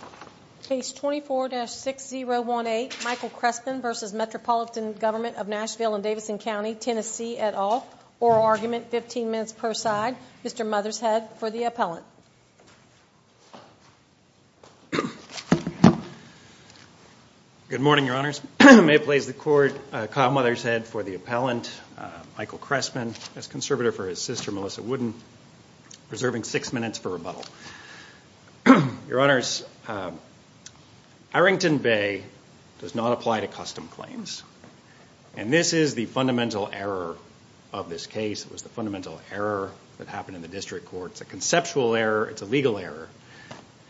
and Davidson County, Tennessee, et al. Oral argument, 15 minutes per side. Mr. Mothershead for the appellant. Good morning, Your Honors. May it please the Court, Kyle Mothershead for the appellant, Michael Chrestman as conservator for his sister Arrington Bay does not apply to custom claims and this is the fundamental error of this case. It was the fundamental error that happened in the district court. It's a conceptual error. It's a legal error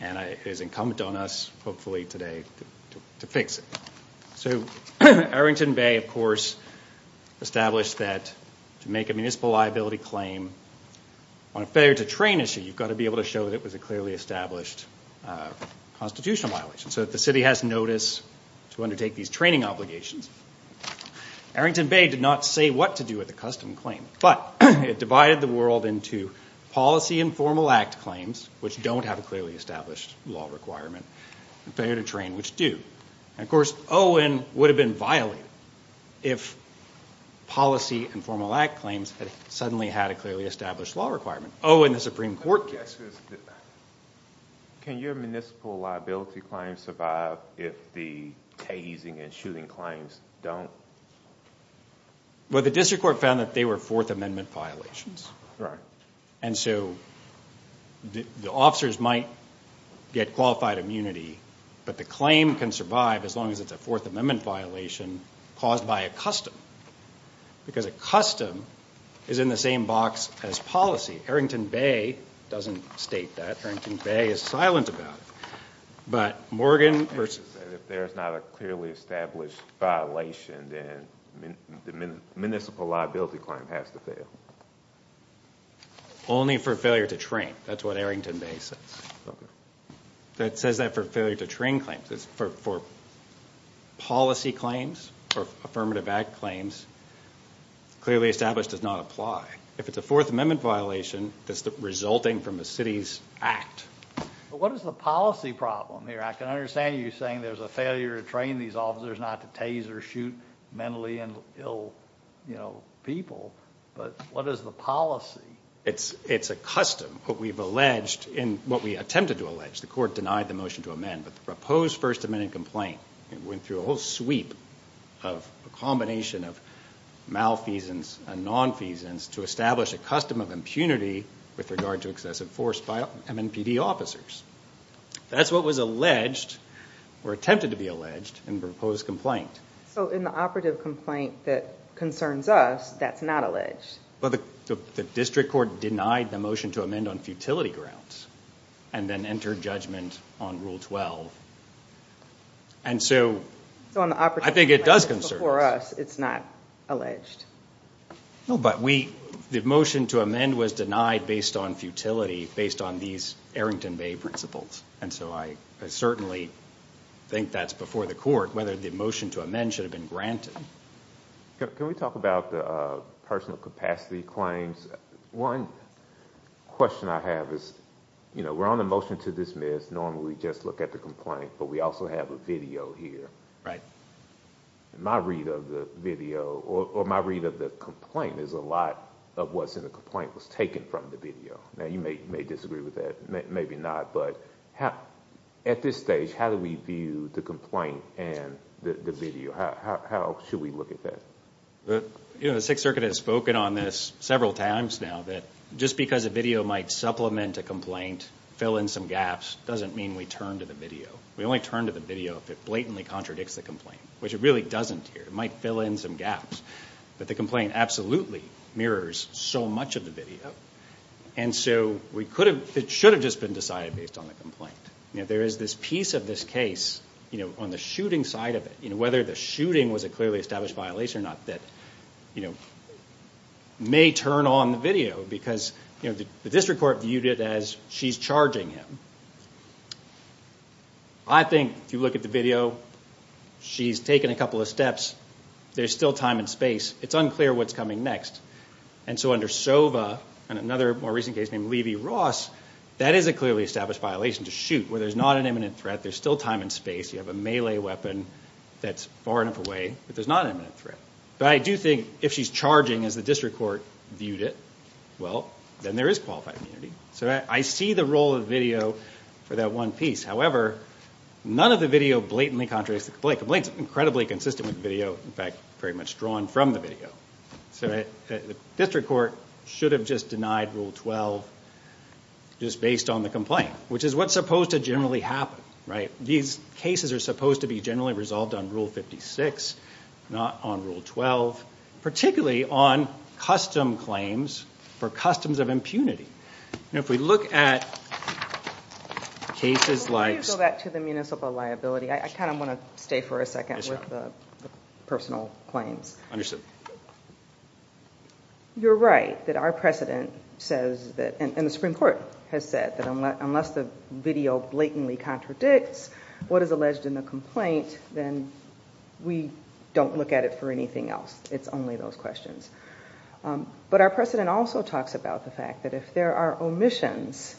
and it is incumbent on us, hopefully today, to fix it. So Arrington Bay, of course, established that to make a municipal liability claim on a failure to train issue, you've got to be able to show that it was a clearly established constitutional violation. So the city has notice to undertake these training obligations. Arrington Bay did not say what to do with the custom claim, but it divided the world into policy and formal act claims, which don't have a clearly established law requirement, and failure to train, which do. Of course, Owen would have been violated if policy and formal act claims had suddenly had a clearly established law requirement. Owen, the floor is yours. Can your municipal liability claim survive if the tasing and shooting claims don't? Well, the district court found that they were Fourth Amendment violations. And so the officers might get qualified immunity, but the claim can survive as long as it's a Fourth Amendment violation caused by a custom. Because a custom is in the same box as policy. Arrington Bay doesn't state that. Arrington Bay is silent about it. But Morgan... If there's not a clearly established violation, then the municipal liability claim has to fail. Only for failure to train. That's what Arrington Bay says. That says that for failure to train claims. For policy claims, for affirmative act claims, clearly established does not apply. If it's a Fourth Amendment violation, that's resulting from the city's act. What is the policy problem here? I can understand you saying there's a failure to train these officers not to tase or shoot mentally ill people, but what is the policy? It's a custom. What we've alleged, what we attempted to allege, the court denied the motion to amend, but the proposed First Amendment complaint, it went through a whole sweep of a combination of malfeasance and nonfeasance to establish a custom of impunity with regard to excessive force by MNPD officers. That's what was alleged, or attempted to be alleged, in the proposed complaint. So in the operative complaint that concerns us, that's not alleged? The district court denied the motion to amend on futility grounds, and then your judgment on Rule 12. I think it does concern us. It's before us. It's not alleged. The motion to amend was denied based on futility, based on these Errington Bay principles. I certainly think that's before the court, whether the motion to amend should have been granted. Can we talk about the personal capacity claims? One question I have is, we're on the motion to dismiss, normally we just look at the complaint, but we also have a video here. My read of the video, or my read of the complaint, is a lot of what's in the complaint was taken from the video. Now, you may disagree with that, maybe not, but at this stage, how do we view the complaint and the video? How should we look at that? The Sixth Circuit has spoken on this several times now, that just because a video might supplement a complaint, fill in some gaps, doesn't mean we turn to the video. We only turn to the video if it blatantly contradicts the complaint, which it really doesn't here. It might fill in some gaps, but the complaint absolutely mirrors so much of the video, and so it should have just been decided based on the complaint. There is this piece of this case, on the shooting side of it, whether the shooting was a clearly established violation or not, that may turn on the video, because the district court viewed it as she's charging him. I think if you look at the video, she's taken a couple of steps, there's still time and space. It's unclear what's coming next, and so under Sova, and another more recent case named Levy-Ross, that is a clearly established violation to shoot, where there's not an imminent threat, there's still time and space, you have a melee weapon that's far enough away, but there's not an imminent threat, but I do think if she's charging as the district court viewed it, well, then there is qualified immunity. I see the role of the video for that one piece, however, none of the video blatantly contradicts the complaint. The complaint is incredibly consistent with the video, in fact, very much drawn from the video, so the district court should have just denied Rule 12, just based on the complaint, which is what's supposed to generally happen. These cases are supposed to be generally resolved on Rule 56, not on Rule 12, particularly on custom claims, for customs of impunity, and if we look at cases like- Before you go back to the municipal liability, I kind of want to stay for a second with the personal claims. Understood. You're right, that our precedent says, and the Supreme Court has said, that unless the video blatantly contradicts what is alleged in the complaint, then we don't look at it for anything else. It's only those questions. But our precedent also talks about the fact that if there are omissions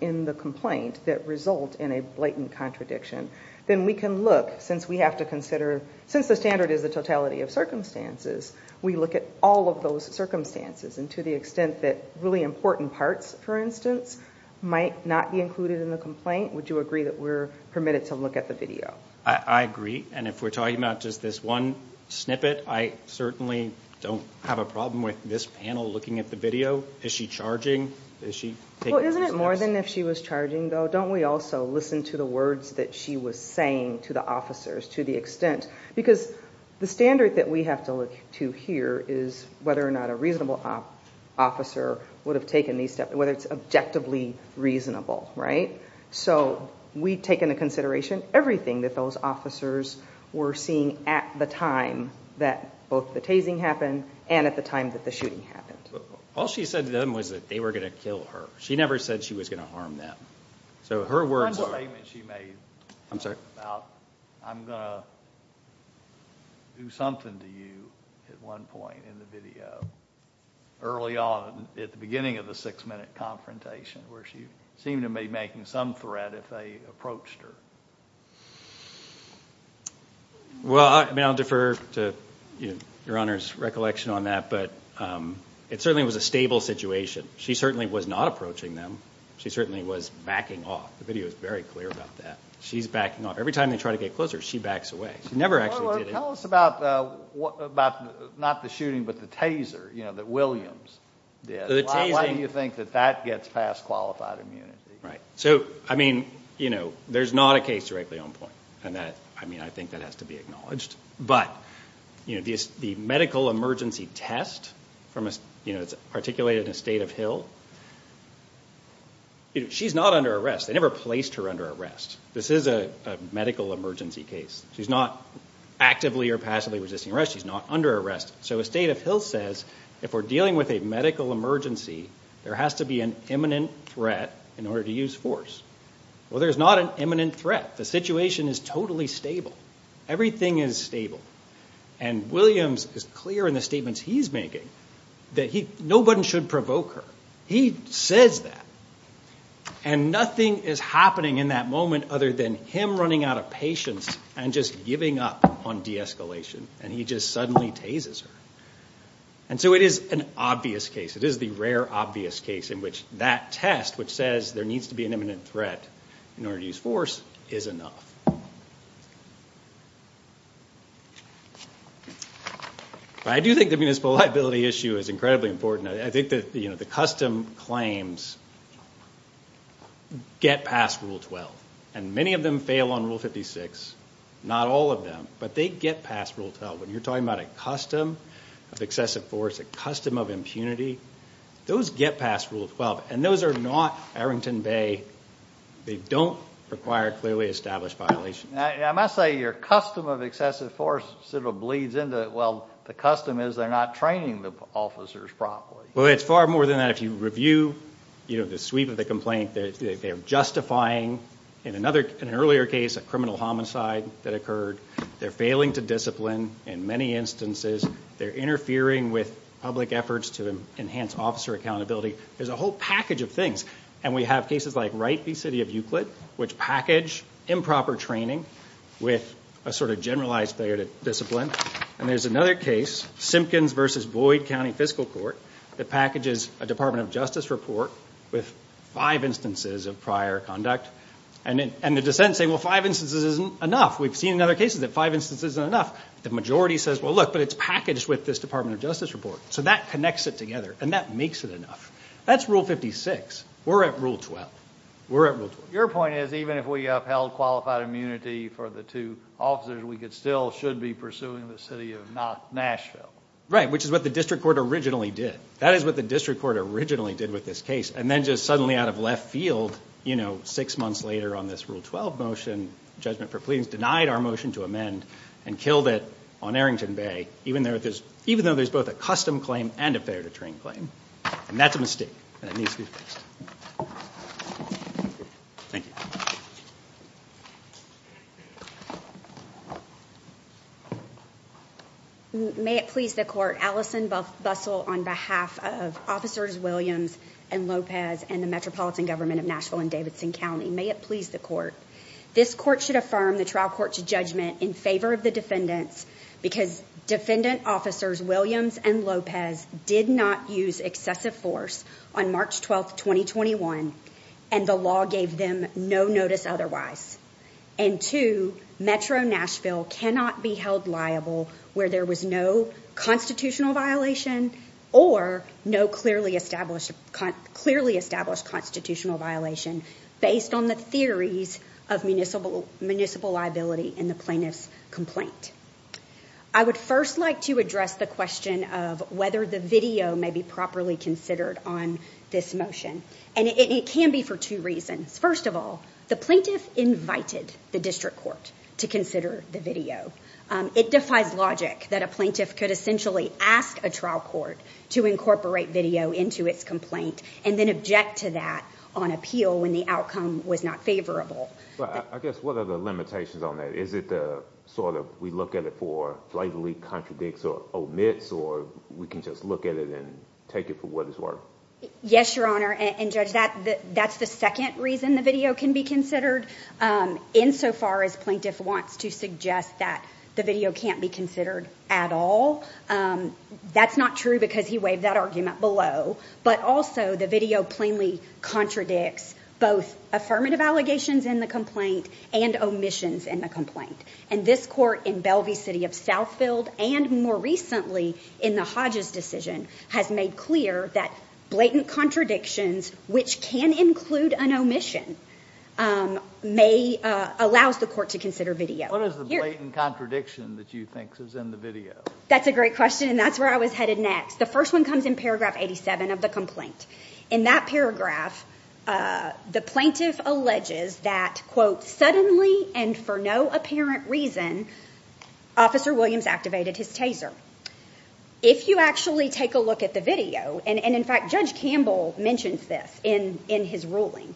in the complaint that result in a blatant contradiction, then we can look, since we have to consider, since the standard is the totality of circumstances, we look at all of those circumstances, and to the extent that really important parts, for instance, might not be included in the complaint, would you agree that we're permitted to look at the video? I agree, and if we're talking about just this one snippet, I certainly don't have a problem with this panel looking at the video. Is she charging? Well, isn't it more than if she was charging, though? Don't we also listen to the words that she was saying to the officers, to the extent? Because the standard that we have to look to here is whether or not a whether it's objectively reasonable, right? So we take into consideration everything that those officers were seeing at the time that both the tasing happened, and at the time that the shooting happened. All she said to them was that they were going to kill her. She never said she was going to harm them. So her words- On the statement she made about, I'm going to do something to you, at one point in the video, early on, at the beginning of the six-minute confrontation, where she seemed to be making some threat if they approached her. Well, I mean, I'll defer to your Honor's recollection on that, but it certainly was a stable situation. She certainly was not approaching them. She certainly was backing off. The video is very clear about that. She's backing off. Every time they try to get closer, she backs away. She never actually did anything. Tell us about, not the shooting, but the taser that Williams did. Why do you think that that gets past qualified immunity? So, I mean, there's not a case directly on point, and I think that has to be acknowledged. But the medical emergency test, it's articulated in the State of Hill. She's not under arrest. They never placed her under arrest. This is a medical emergency case. She's not actively or passively resisting arrest. She's not under arrest. So, the State of Hill says, if we're dealing with a medical emergency, there has to be an imminent threat in order to use force. Well, there's not an imminent threat. The situation is totally stable. Everything is stable. And Williams is clear in the statements he's making that nobody should provoke her. He says that. And nothing is happening in that moment other than him running out of patience and just giving up on de-escalation. And he just suddenly tasers her. And so it is an obvious case. It is the rare obvious case in which that test, which says there needs to be an imminent threat in order to use force, is enough. But I do think the municipal liability issue is incredibly important. I think the custom claims get past Rule 12. And many of them fail on Rule 56. Not all of them. But they get past Rule 12. When you're talking about a custom of excessive force, a custom of impunity, those get past Rule 12. And those are not Arrington Bay. They don't require clearly established violations. I must say, your custom of excessive force sort of bleeds into, well, the custom is they're not training the officers properly. Well, it's far more than that. If you review the sweep of the complaint, they're justifying, in an earlier case, a criminal homicide that occurred. They're failing to discipline in many instances. They're interfering with public efforts to enhance officer accountability. There's a whole package of things. And we have cases like Wright v. City of Euclid, which package improper training with a sort of generalized failure to discipline. And there's another case, Simpkins v. Boyd County Fiscal Court, that packages a Department of Justice report with five instances of prior conduct. And the dissents say, well, five instances isn't enough. We've seen in other cases that five instances isn't enough. The majority says, well, look, but it's packaged with this Department of Justice report. So that connects it together. And that makes it enough. That's Rule 56. We're at Rule 12. We're at Rule 12. Your point is, even if we upheld qualified immunity for the two officers, we still should be pursuing the city of not Nashville. Right. Which is what the district court originally did. That is what the district court originally did with this case. And then just suddenly out of left field, you know, six months later on this Rule 12 motion, Judgment for Pleas denied our motion to amend and killed it on Arrington Bay, even though there's both a custom claim and a failure to train claim. And that's a mistake. And it needs to be fixed. Thank you. Thank you. May it please the court. Allison both bustle on behalf of officers Williams and Lopez and the metropolitan government of Nashville and Davidson County. May it please the court. This court should affirm the trial court's judgment in favor of the defendants because defendant officers Williams and Lopez did not use excessive force on March 12th, 2021. And the law gave them no notice otherwise. And to Metro Nashville cannot be held liable where there was no constitutional violation or no clearly established, clearly established constitutional violation based on the theories of municipal, municipal liability in the plaintiff's complaint. I would first like to address the question of whether the video may be properly considered on this motion. And it can be for two reasons. First of all, the plaintiff invited the district court to consider the video. It defies logic that a plaintiff could essentially ask a trial court to incorporate video into its complaint and then object to that on appeal when the outcome was not favorable. I guess, what are the limitations on that? Is it the sort of, we look at it for blatantly contradicts or omits, or we can just look at it and take it for what it's worth? Yes, your honor. And judge, that's the second reason the video can be considered insofar as plaintiff wants to suggest that the video can't be considered at all. That's not true because he waved that argument below, but also the video plainly contradicts both affirmative allegations in the complaint and omissions in the complaint. And this court in Bellevue City of Southfield and more recently in the Hodges decision has made clear that blatant contradictions, which can include an omission, allows the court to consider video. What is the blatant contradiction that you think is in the video? That's a great question and that's where I was headed next. The first one comes in paragraph 87 of the complaint. In that paragraph, the plaintiff alleges that, quote, suddenly and for no apparent reason, Officer Williams activated his taser. If you actually take a look at the video, and in fact, Judge Campbell mentions this in his ruling,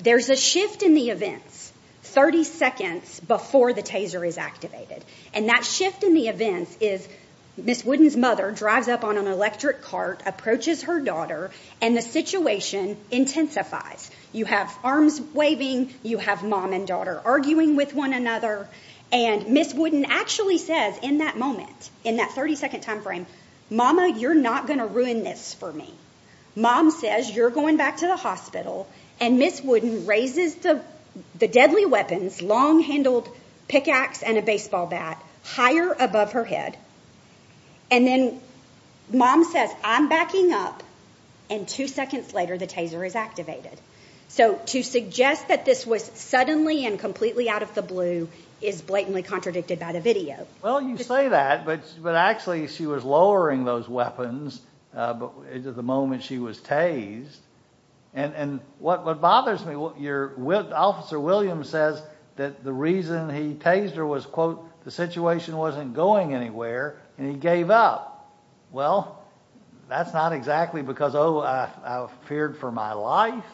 there's a shift in the events 30 seconds before the taser is activated. And that shift in the events is Ms. Wooden's mother drives up on an electric cart, approaches her daughter, and the situation intensifies. You have arms waving, you have mom and daughter arguing with one another, and Ms. Wooden actually says in that moment, in that 30-second time frame, mama, you're not going to ruin this for me. Mom says, you're going back to the hospital. And Ms. Wooden raises the deadly weapons, long-handled pickaxe and a baseball bat, higher above her head. And then mom says, I'm backing up, and two seconds later the taser is activated. So to suggest that this was suddenly and completely out of the blue is blatantly contradicted by the video. Well, you say that, but actually she was lowering those weapons at the moment she was tased. And what bothers me, Officer Williams says that the reason he tased her was, quote, the situation wasn't going anywhere, and he gave up. Well, that's not exactly because, oh, I feared for my life.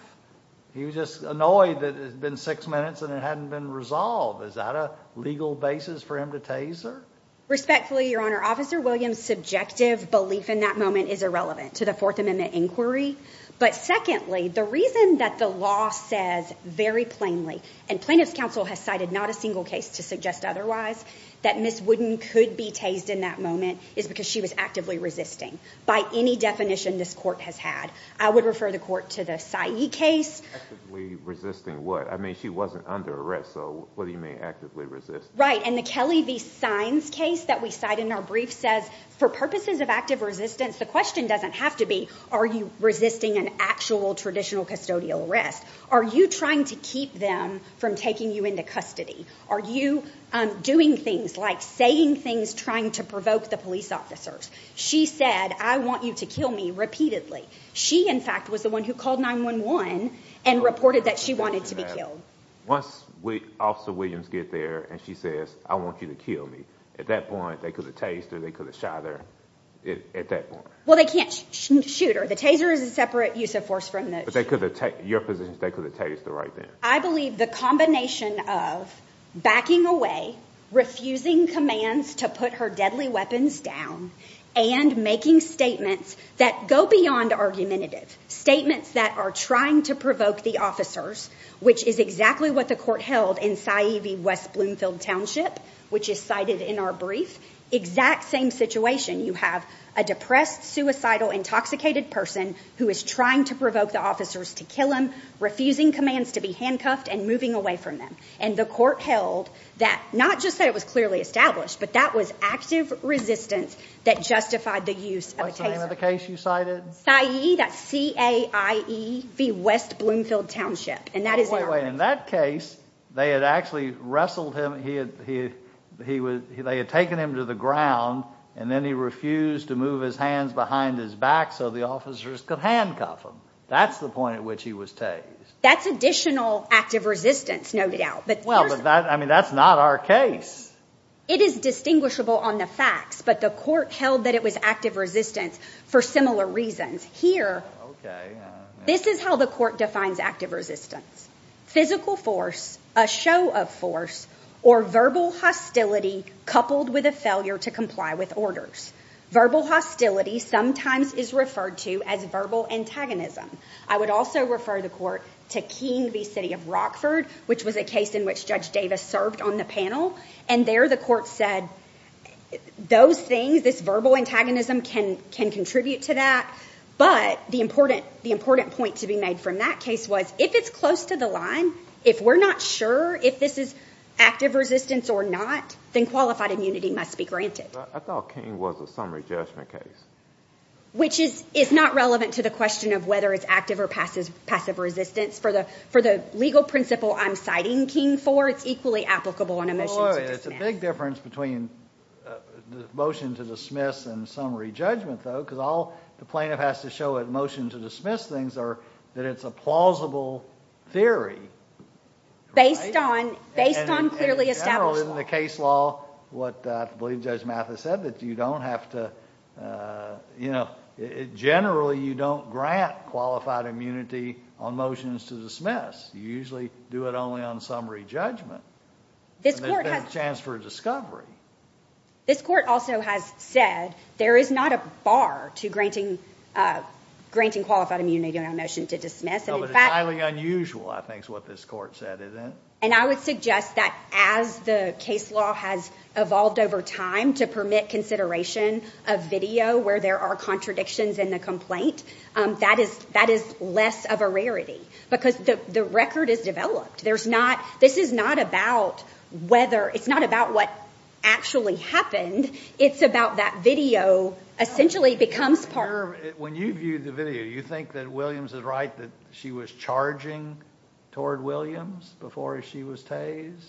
He was just annoyed that it had been six minutes and it hadn't been resolved. Is that a legal basis for him to tase her? Respectfully, Your Honor, Officer Williams' subjective belief in that moment is irrelevant to the Fourth Amendment inquiry. But secondly, the reason that the law says very plainly, and Plaintiff's Counsel has cited not a single case to suggest otherwise, that Ms. Wooden could be tased in that moment is because she was actively resisting, by any definition this court has had. I would refer the court to the Saiye case. Actively resisting what? I mean, she wasn't under arrest, so what do you mean actively resisting? Right. And the Kelly v. Sines case that we cite in our brief says, for purposes of active resistance, the question doesn't have to be, are you resisting an actual traditional custodial arrest? Are you trying to keep them from taking you into custody? Are you doing things like saying things trying to provoke the police officers? She said, I want you to kill me, repeatedly. She, in fact, was the one who called 9-1-1 and reported that she wanted to be killed. Once Officer Williams gets there and she says, I want you to kill me, at that point, they could have tased her, they could have shot her, at that point? Well, they can't shoot her. The taser is a separate use of force from the shooter. But they could have tased her right then? I believe the combination of backing away, refusing commands to put her deadly weapons down and making statements that go beyond argumentative, statements that are trying to provoke the officers, which is exactly what the court held in Sa'ivi, West Bloomfield Township, which is cited in our brief, exact same situation. You have a depressed, suicidal, intoxicated person who is trying to provoke the officers to kill him, refusing commands to be handcuffed and moving away from them. And the court held that, not just that it was clearly established, but that was active resistance that justified the use of a taser. What's the name of the case you cited? Sa'ivi, that's C-A-I-V-I, West Bloomfield Township. And that is in our brief. Wait, wait, in that case, they had actually wrestled him, they had taken him to the ground and then he refused to move his hands behind his back so the officers could handcuff him. That's the point at which he was tased. That's additional active resistance noted out. Well, but that's not our case. It is distinguishable on the facts, but the court held that it was active resistance for similar reasons. Here, this is how the court defines active resistance. Physical force, a show of force, or verbal hostility coupled with a failure to comply with orders. Verbal hostility sometimes is referred to as verbal antagonism. I would also refer the court to Keene v. City of Rockford, which was a case in which Judge Davis served on the panel, and there the court said those things, this verbal antagonism can contribute to that, but the important point to be made from that case was if it's close to the line, if we're not sure if this is active resistance or not, then qualified immunity must be granted. I thought Keene was a summary judgment case. Which is not relevant to the question of whether it's active or passive resistance. For the legal principle I'm citing Keene for, it's equally applicable on a motion to dismiss. Oh, it's a big difference between the motion to dismiss and summary judgment, though, because all the plaintiff has to show at motion to dismiss things are that it's a plausible theory. Based on clearly established law. Based on the case law, what I believe Judge Mathis said, that you don't have to... generally you don't grant qualified immunity on motions to dismiss. You usually do it only on summary judgment. This court has... There's a chance for discovery. This court also has said there is not a bar to granting qualified immunity on a motion to dismiss. It's highly unusual, I think, is what this court said, isn't it? And I would suggest that as the case law has evolved over time to permit consideration of video where there are contradictions in the complaint, that is less of a rarity. Because the record is developed. This is not about whether... it's not about what actually happened. It's about that video essentially becomes part of... When you view the video, you think that Williams is right that she was charging toward Williams before she was tased?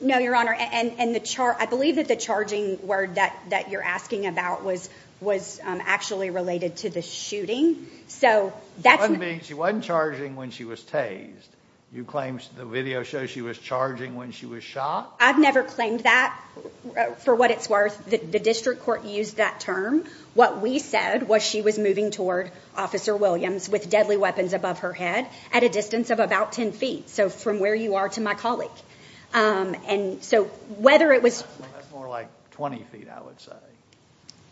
No, Your Honor. And the... I believe that the charging word that you're asking about was actually related to the shooting. So that's... One being she wasn't charging when she was tased. You claim the video shows she was charging when she was shot? I've never claimed that, for what it's worth. The district court used that term. What we said was she was moving toward Officer Williams with deadly weapons above her head at a distance of about 10 feet. So from where you are to my colleague. And so whether it was... That's more like 20 feet I would say.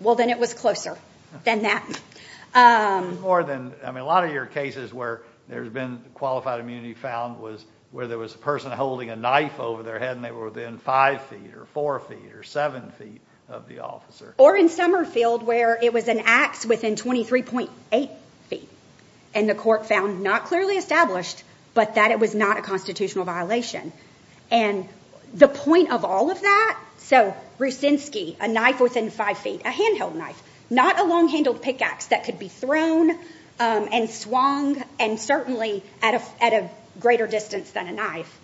Well then it was closer than that. More than... I mean a lot of your cases where there's been qualified immunity found was where there was a person holding a knife over their head and they were within 5 feet or 4 feet or 7 feet of the officer. Or in Summerfield where it was an ax within 23.8 feet. And the court found not clearly established, but that it was not a constitutional violation. And the point of all of that... So Rusinski, a knife within 5 feet, a handheld knife. Not a long-handled pickaxe that could be thrown and swung and certainly at a greater distance than a knife.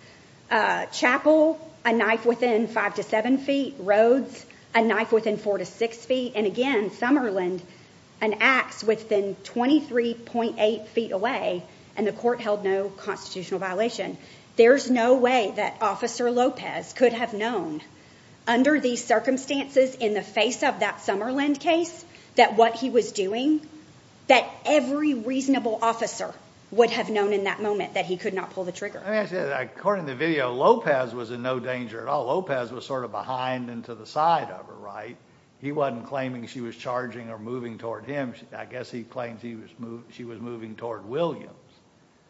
Chapel, a knife within 5 to 7 feet. Rhodes, a knife within 4 to 6 feet. And again, Summerland, an ax within 23.8 feet away and the court held no constitutional violation. There's no way that Officer Lopez could have known under these circumstances in the face of that Summerland case that what he was doing, that every reasonable officer would have known in that moment that he could not pull the trigger. I mean I said that according to the video, Lopez was in no danger at all. Lopez was sort of behind and to the side of her, right? He wasn't claiming she was charging or moving toward him, I guess he claims she was moving toward Williams.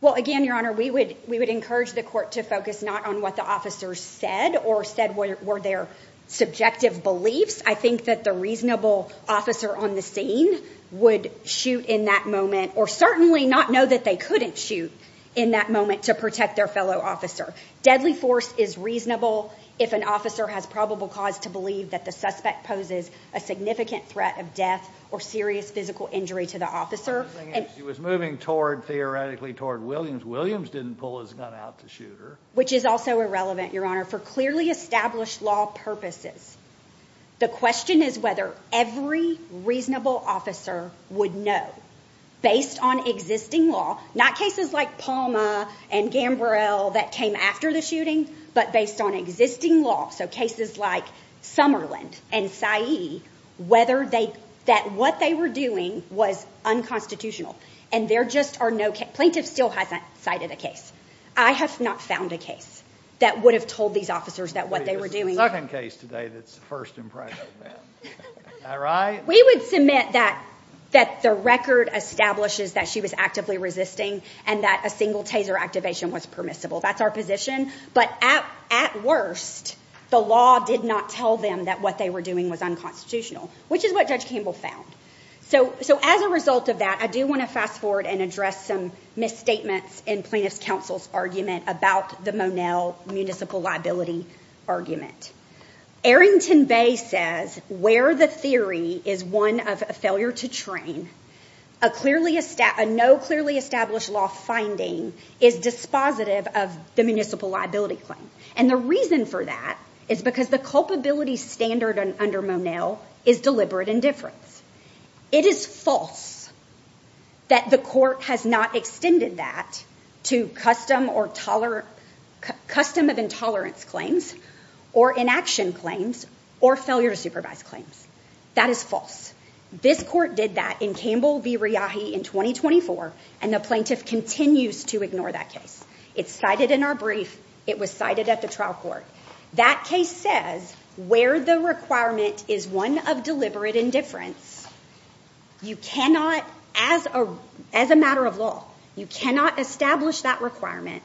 Well, again, Your Honor, we would encourage the court to focus not on what the officers said or said were their subjective beliefs. I think that the reasonable officer on the scene would shoot in that moment or certainly not know that they couldn't shoot in that moment to protect their fellow officer. Deadly force is reasonable if an officer has probable cause to believe that the suspect poses a significant threat of death or serious physical injury to the officer. She was moving toward, theoretically, Williams. Williams didn't pull his gun out to shoot her. Which is also irrelevant, Your Honor, for clearly established law purposes. The question is whether every reasonable officer would know based on existing law, not cases like Palma and Gambrel that came after the shooting, but based on existing law. So cases like Summerland and Sayeed, whether they, that what they were doing was unconstitutional. And there just are no, plaintiff still hasn't cited a case. I have not found a case that would have told these officers that what they were doing. There's a second case today that's the first impression then, am I right? We would submit that the record establishes that she was actively resisting and that a single taser activation was permissible. That's our position. But at worst, the law did not tell them that what they were doing was unconstitutional, which is what Judge Campbell found. So as a result of that, I do want to fast forward and address some misstatements in plaintiff's counsel's argument about the Monel Municipal Liability Argument. Arrington Bay says where the theory is one of a failure to train, a clearly, a no clearly established law finding is dispositive of the municipal liability claim. And the reason for that is because the culpability standard under Monel is deliberate indifference. It is false that the court has not extended that to custom or tolerant, custom of intolerance claims or inaction claims or failure to supervise claims. That is false. This court did that in Campbell v. Riyahi in 2024 and the plaintiff continues to ignore that case. It's cited in our brief. It was cited at the trial court. That case says where the requirement is one of deliberate indifference, you cannot, as a matter of law, you cannot establish that requirement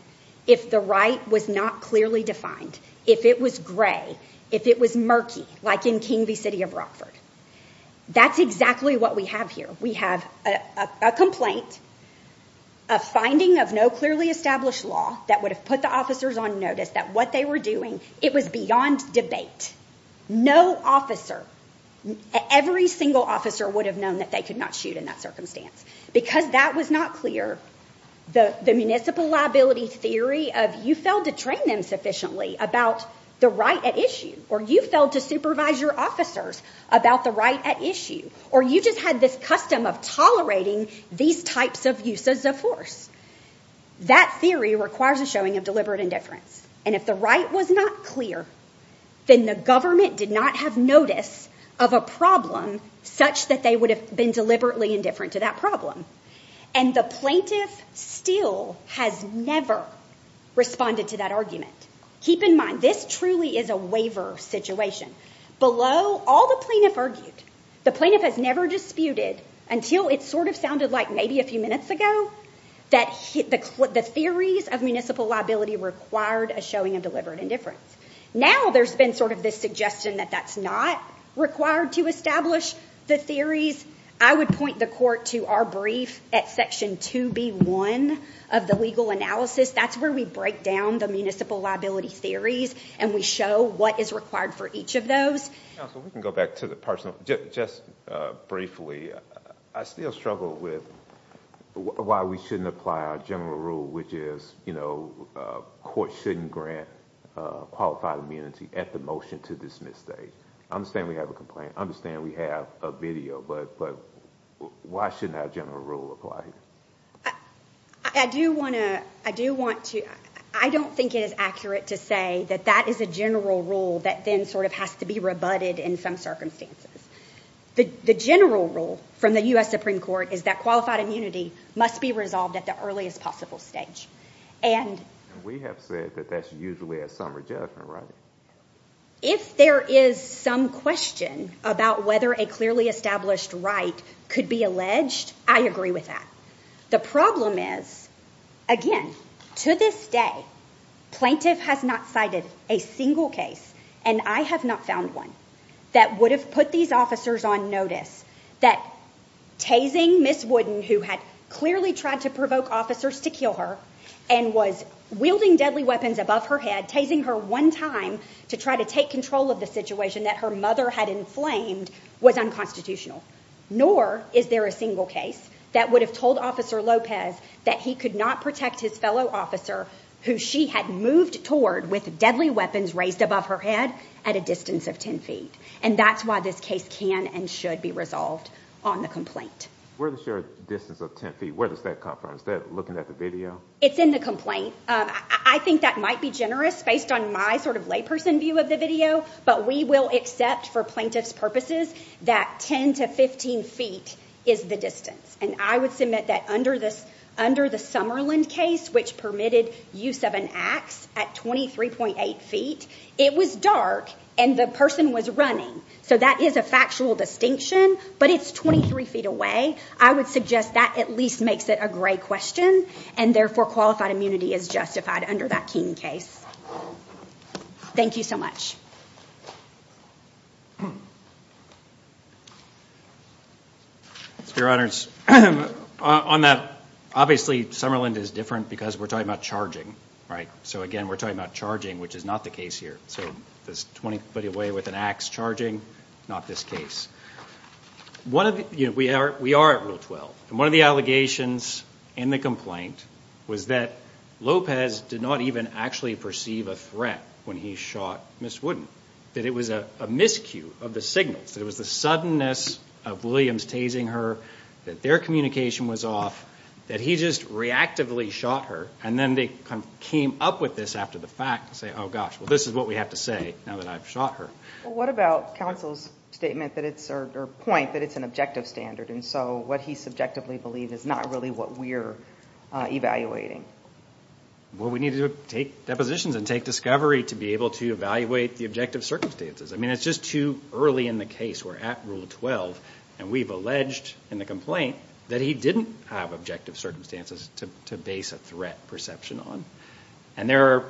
if the right was not clearly defined, if it was gray, if it was murky, like in King v. City of Rockford. That's exactly what we have here. We have a complaint, a finding of no clearly established law that would have put the officers on notice that what they were doing, it was beyond debate. No officer, every single officer would have known that they could not shoot in that circumstance because that was not clear. The municipal liability theory of you failed to train them sufficiently about the right at issue, or you failed to supervise your officers about the right at issue, or you just had this custom of tolerating these types of uses of force. That theory requires a showing of deliberate indifference. And if the right was not clear, then the government did not have notice of a problem such that they would have been deliberately indifferent to that problem. And the plaintiff still has never responded to that argument. Keep in mind, this truly is a waiver situation. Below all the plaintiff argued, the plaintiff has never disputed until it sort of sounded like maybe a few minutes ago that the theories of municipal liability required a showing of deliberate indifference. Now there's been sort of this suggestion that that's not required to establish the theories. I would point the court to our brief at section 2B1 of the legal analysis. That's where we break down the municipal liability theories and we show what is required for each of those. Counsel, we can go back to the personal. Just briefly, I still struggle with why we shouldn't apply our general rule, which is courts shouldn't grant qualified immunity at the motion to dismiss state. I understand we have a complaint. I understand we have a video, but why shouldn't our general rule apply? I do want to... I don't think it is accurate to say that that is a general rule that then sort of has to be rebutted in some circumstances. The general rule from the U.S. Supreme Court is that qualified immunity must be resolved at the earliest possible stage. We have said that that's usually a summary judgment, right? If there is some question about whether a clearly established right could be alleged, I agree with that. The problem is, again, to this day, plaintiff has not cited a single case, and I have not found one, that would have put these officers on notice that tasing Ms. Wooden, who had clearly tried to provoke officers to kill her and was wielding deadly weapons above her head, tasing her one time to try to take control of the situation that her mother had inflamed was unconstitutional. Nor is there a single case that would have told Officer Lopez that he could not protect his fellow officer, who she had moved toward with deadly weapons raised above her head, at a distance of 10 feet. And that's why this case can and should be resolved on the complaint. Where does your distance of 10 feet, where does that come from? Is that looking at the video? It's in the complaint. I think that might be generous based on my sort of layperson view of the video, but we will accept, for plaintiff's purposes, that 10 to 15 feet is the distance. And I would submit that under the Summerland case, which permitted use of an axe at 23.8 feet, it was dark and the person was running. So that is a factual distinction, but it's 23 feet away. I would suggest that at least makes it a gray question, and therefore qualified immunity is justified under that King case. Thank you so much. Your Honor, obviously, Summerland is different because we're talking about charging, right? So again, we're talking about charging, which is not the case here. So 20 feet away with an axe charging, not this case. We are at Rule 12. And one of the allegations in the complaint was that Lopez did not even actually perceive a threat when he shot Ms. Wooden, that it was a miscue of the signals, that it was the suddenness of Williams tasing her, that their communication was off, that he just reactively shot her, and then they came up with this after the fact to say, oh gosh, well this is what we have to say now that I've shot her. What about counsel's statement or point that it's an objective standard, and so what he subjectively believed is not really what we're evaluating? Well, we need to take depositions and take discovery to be able to evaluate the objective circumstances. I mean, it's just too early in the case. We're at Rule 12, and we've alleged in the complaint that he didn't have objective circumstances to base a threat perception on. And there are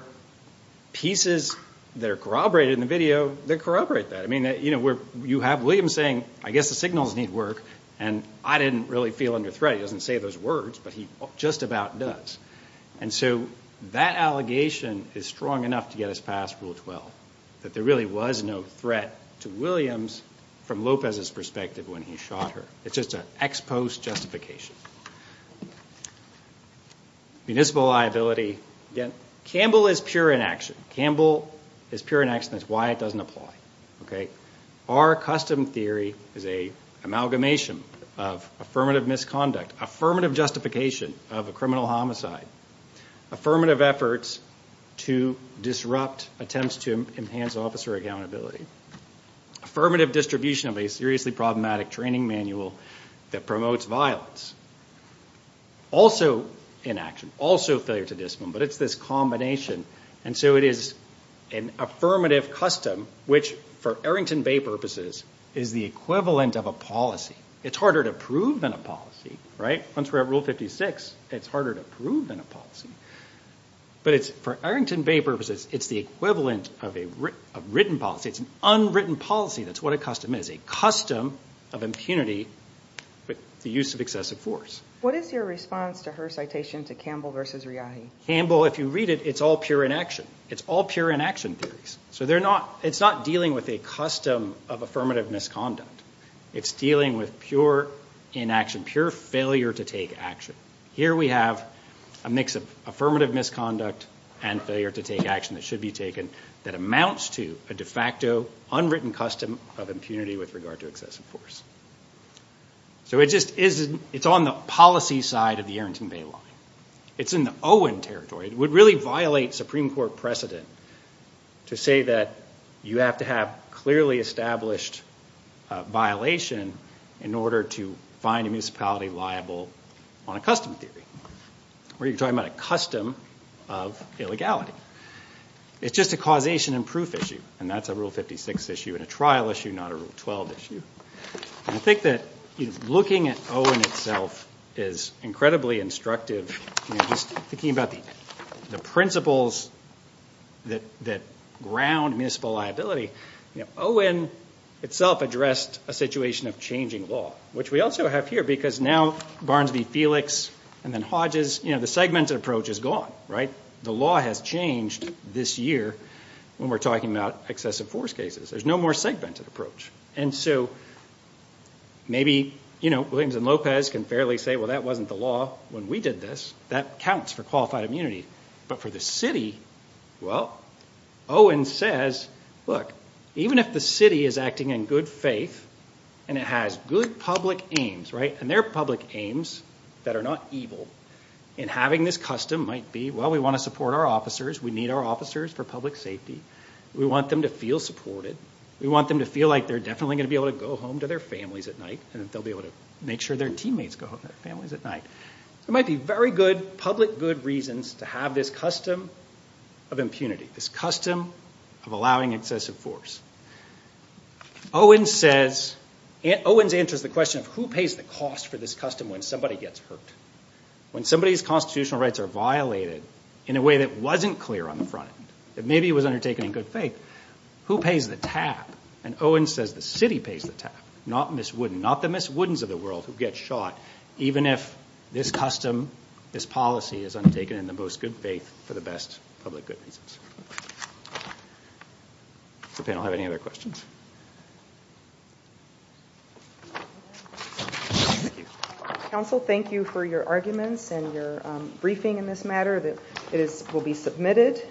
pieces that are corroborated in the video that corroborate that. I mean, you have Williams saying, I guess the signals need work, and I didn't really feel under threat. He doesn't say those words, but he just about does. And so that allegation is strong enough to get us past Rule 12, that there really was no threat to Williams from Lopez's perspective when he shot her. It's just an ex post justification. Municipal liability, again, Campbell is pure inaction. Campbell is pure inaction, that's why it doesn't apply. Okay? Our custom theory is a amalgamation of affirmative misconduct, affirmative justification of a criminal homicide, affirmative efforts to disrupt attempts to enhance officer accountability. Affirmative distribution of a seriously problematic training manual that promotes violence. Also inaction, also failure to discipline, but it's this combination. And so it is an affirmative custom, which for Arrington Bay purposes, is the equivalent of a policy. It's harder to prove than a policy, right? Once we're at Rule 56, it's harder to prove than a policy. But it's for Arrington Bay purposes, it's the equivalent of a written policy. It's an unwritten policy, that's what a custom is, a custom of impunity with the use of excessive force. What is your response to her citation to Campbell versus Riayhi? Campbell, if you read it, it's all pure inaction. It's all pure inaction theories. So it's not dealing with a custom of affirmative misconduct. It's dealing with pure inaction, pure failure to take action. Here we have a mix of affirmative misconduct and failure to take action that should be taken that amounts to a de facto, unwritten custom of impunity with regard to excessive force. So it's on the policy side of the Arrington Bay line. It's in the Owen territory. It would really violate Supreme Court precedent to say that you have to have clearly established violation in order to find a municipality liable on a custom theory, where you're talking about a custom of illegality. It's just a causation and proof issue, and that's a Rule 56 issue and a trial issue, not a Rule 12 issue. I think that looking at Owen itself is incredibly instructive. Just thinking about the principles that ground municipal liability, Owen itself addressed a situation of changing law, which we also have here because now Barnes v. Felix and then Hodges, the segmented approach is gone. The law has changed this year when we're talking about excessive force cases. There's no more segmented approach. And so maybe, you know, Williams and Lopez can fairly say, well, that wasn't the law when we did this. That counts for qualified immunity. But for the city, well, Owen says, look, even if the city is acting in good faith and it has good public aims, right, and they're public aims that are not evil, and having this custom might be, well, we want to support our officers. We need our officers for public safety. We want them to feel supported. We want them to feel like they're definitely going to be able to go home to their families at night and that they'll be able to make sure their teammates go home to their families at night. There might be very good public good reasons to have this custom of impunity, this custom of allowing excessive force. Owen says, Owen's answers the question of who pays the cost for this custom when somebody gets hurt, when somebody's constitutional rights are violated in a way that wasn't clear on the front end, that maybe it was undertaken in good faith, who pays the tap? And Owen says, the city pays the tap, not Ms. Wooden, not the Ms. Woodens of the world who gets shot, even if this custom, this policy is undertaken in the most good faith for the best public good reasons. Does the panel have any other questions? Counsel, thank you for your arguments and your briefing in this matter. It will be submitted.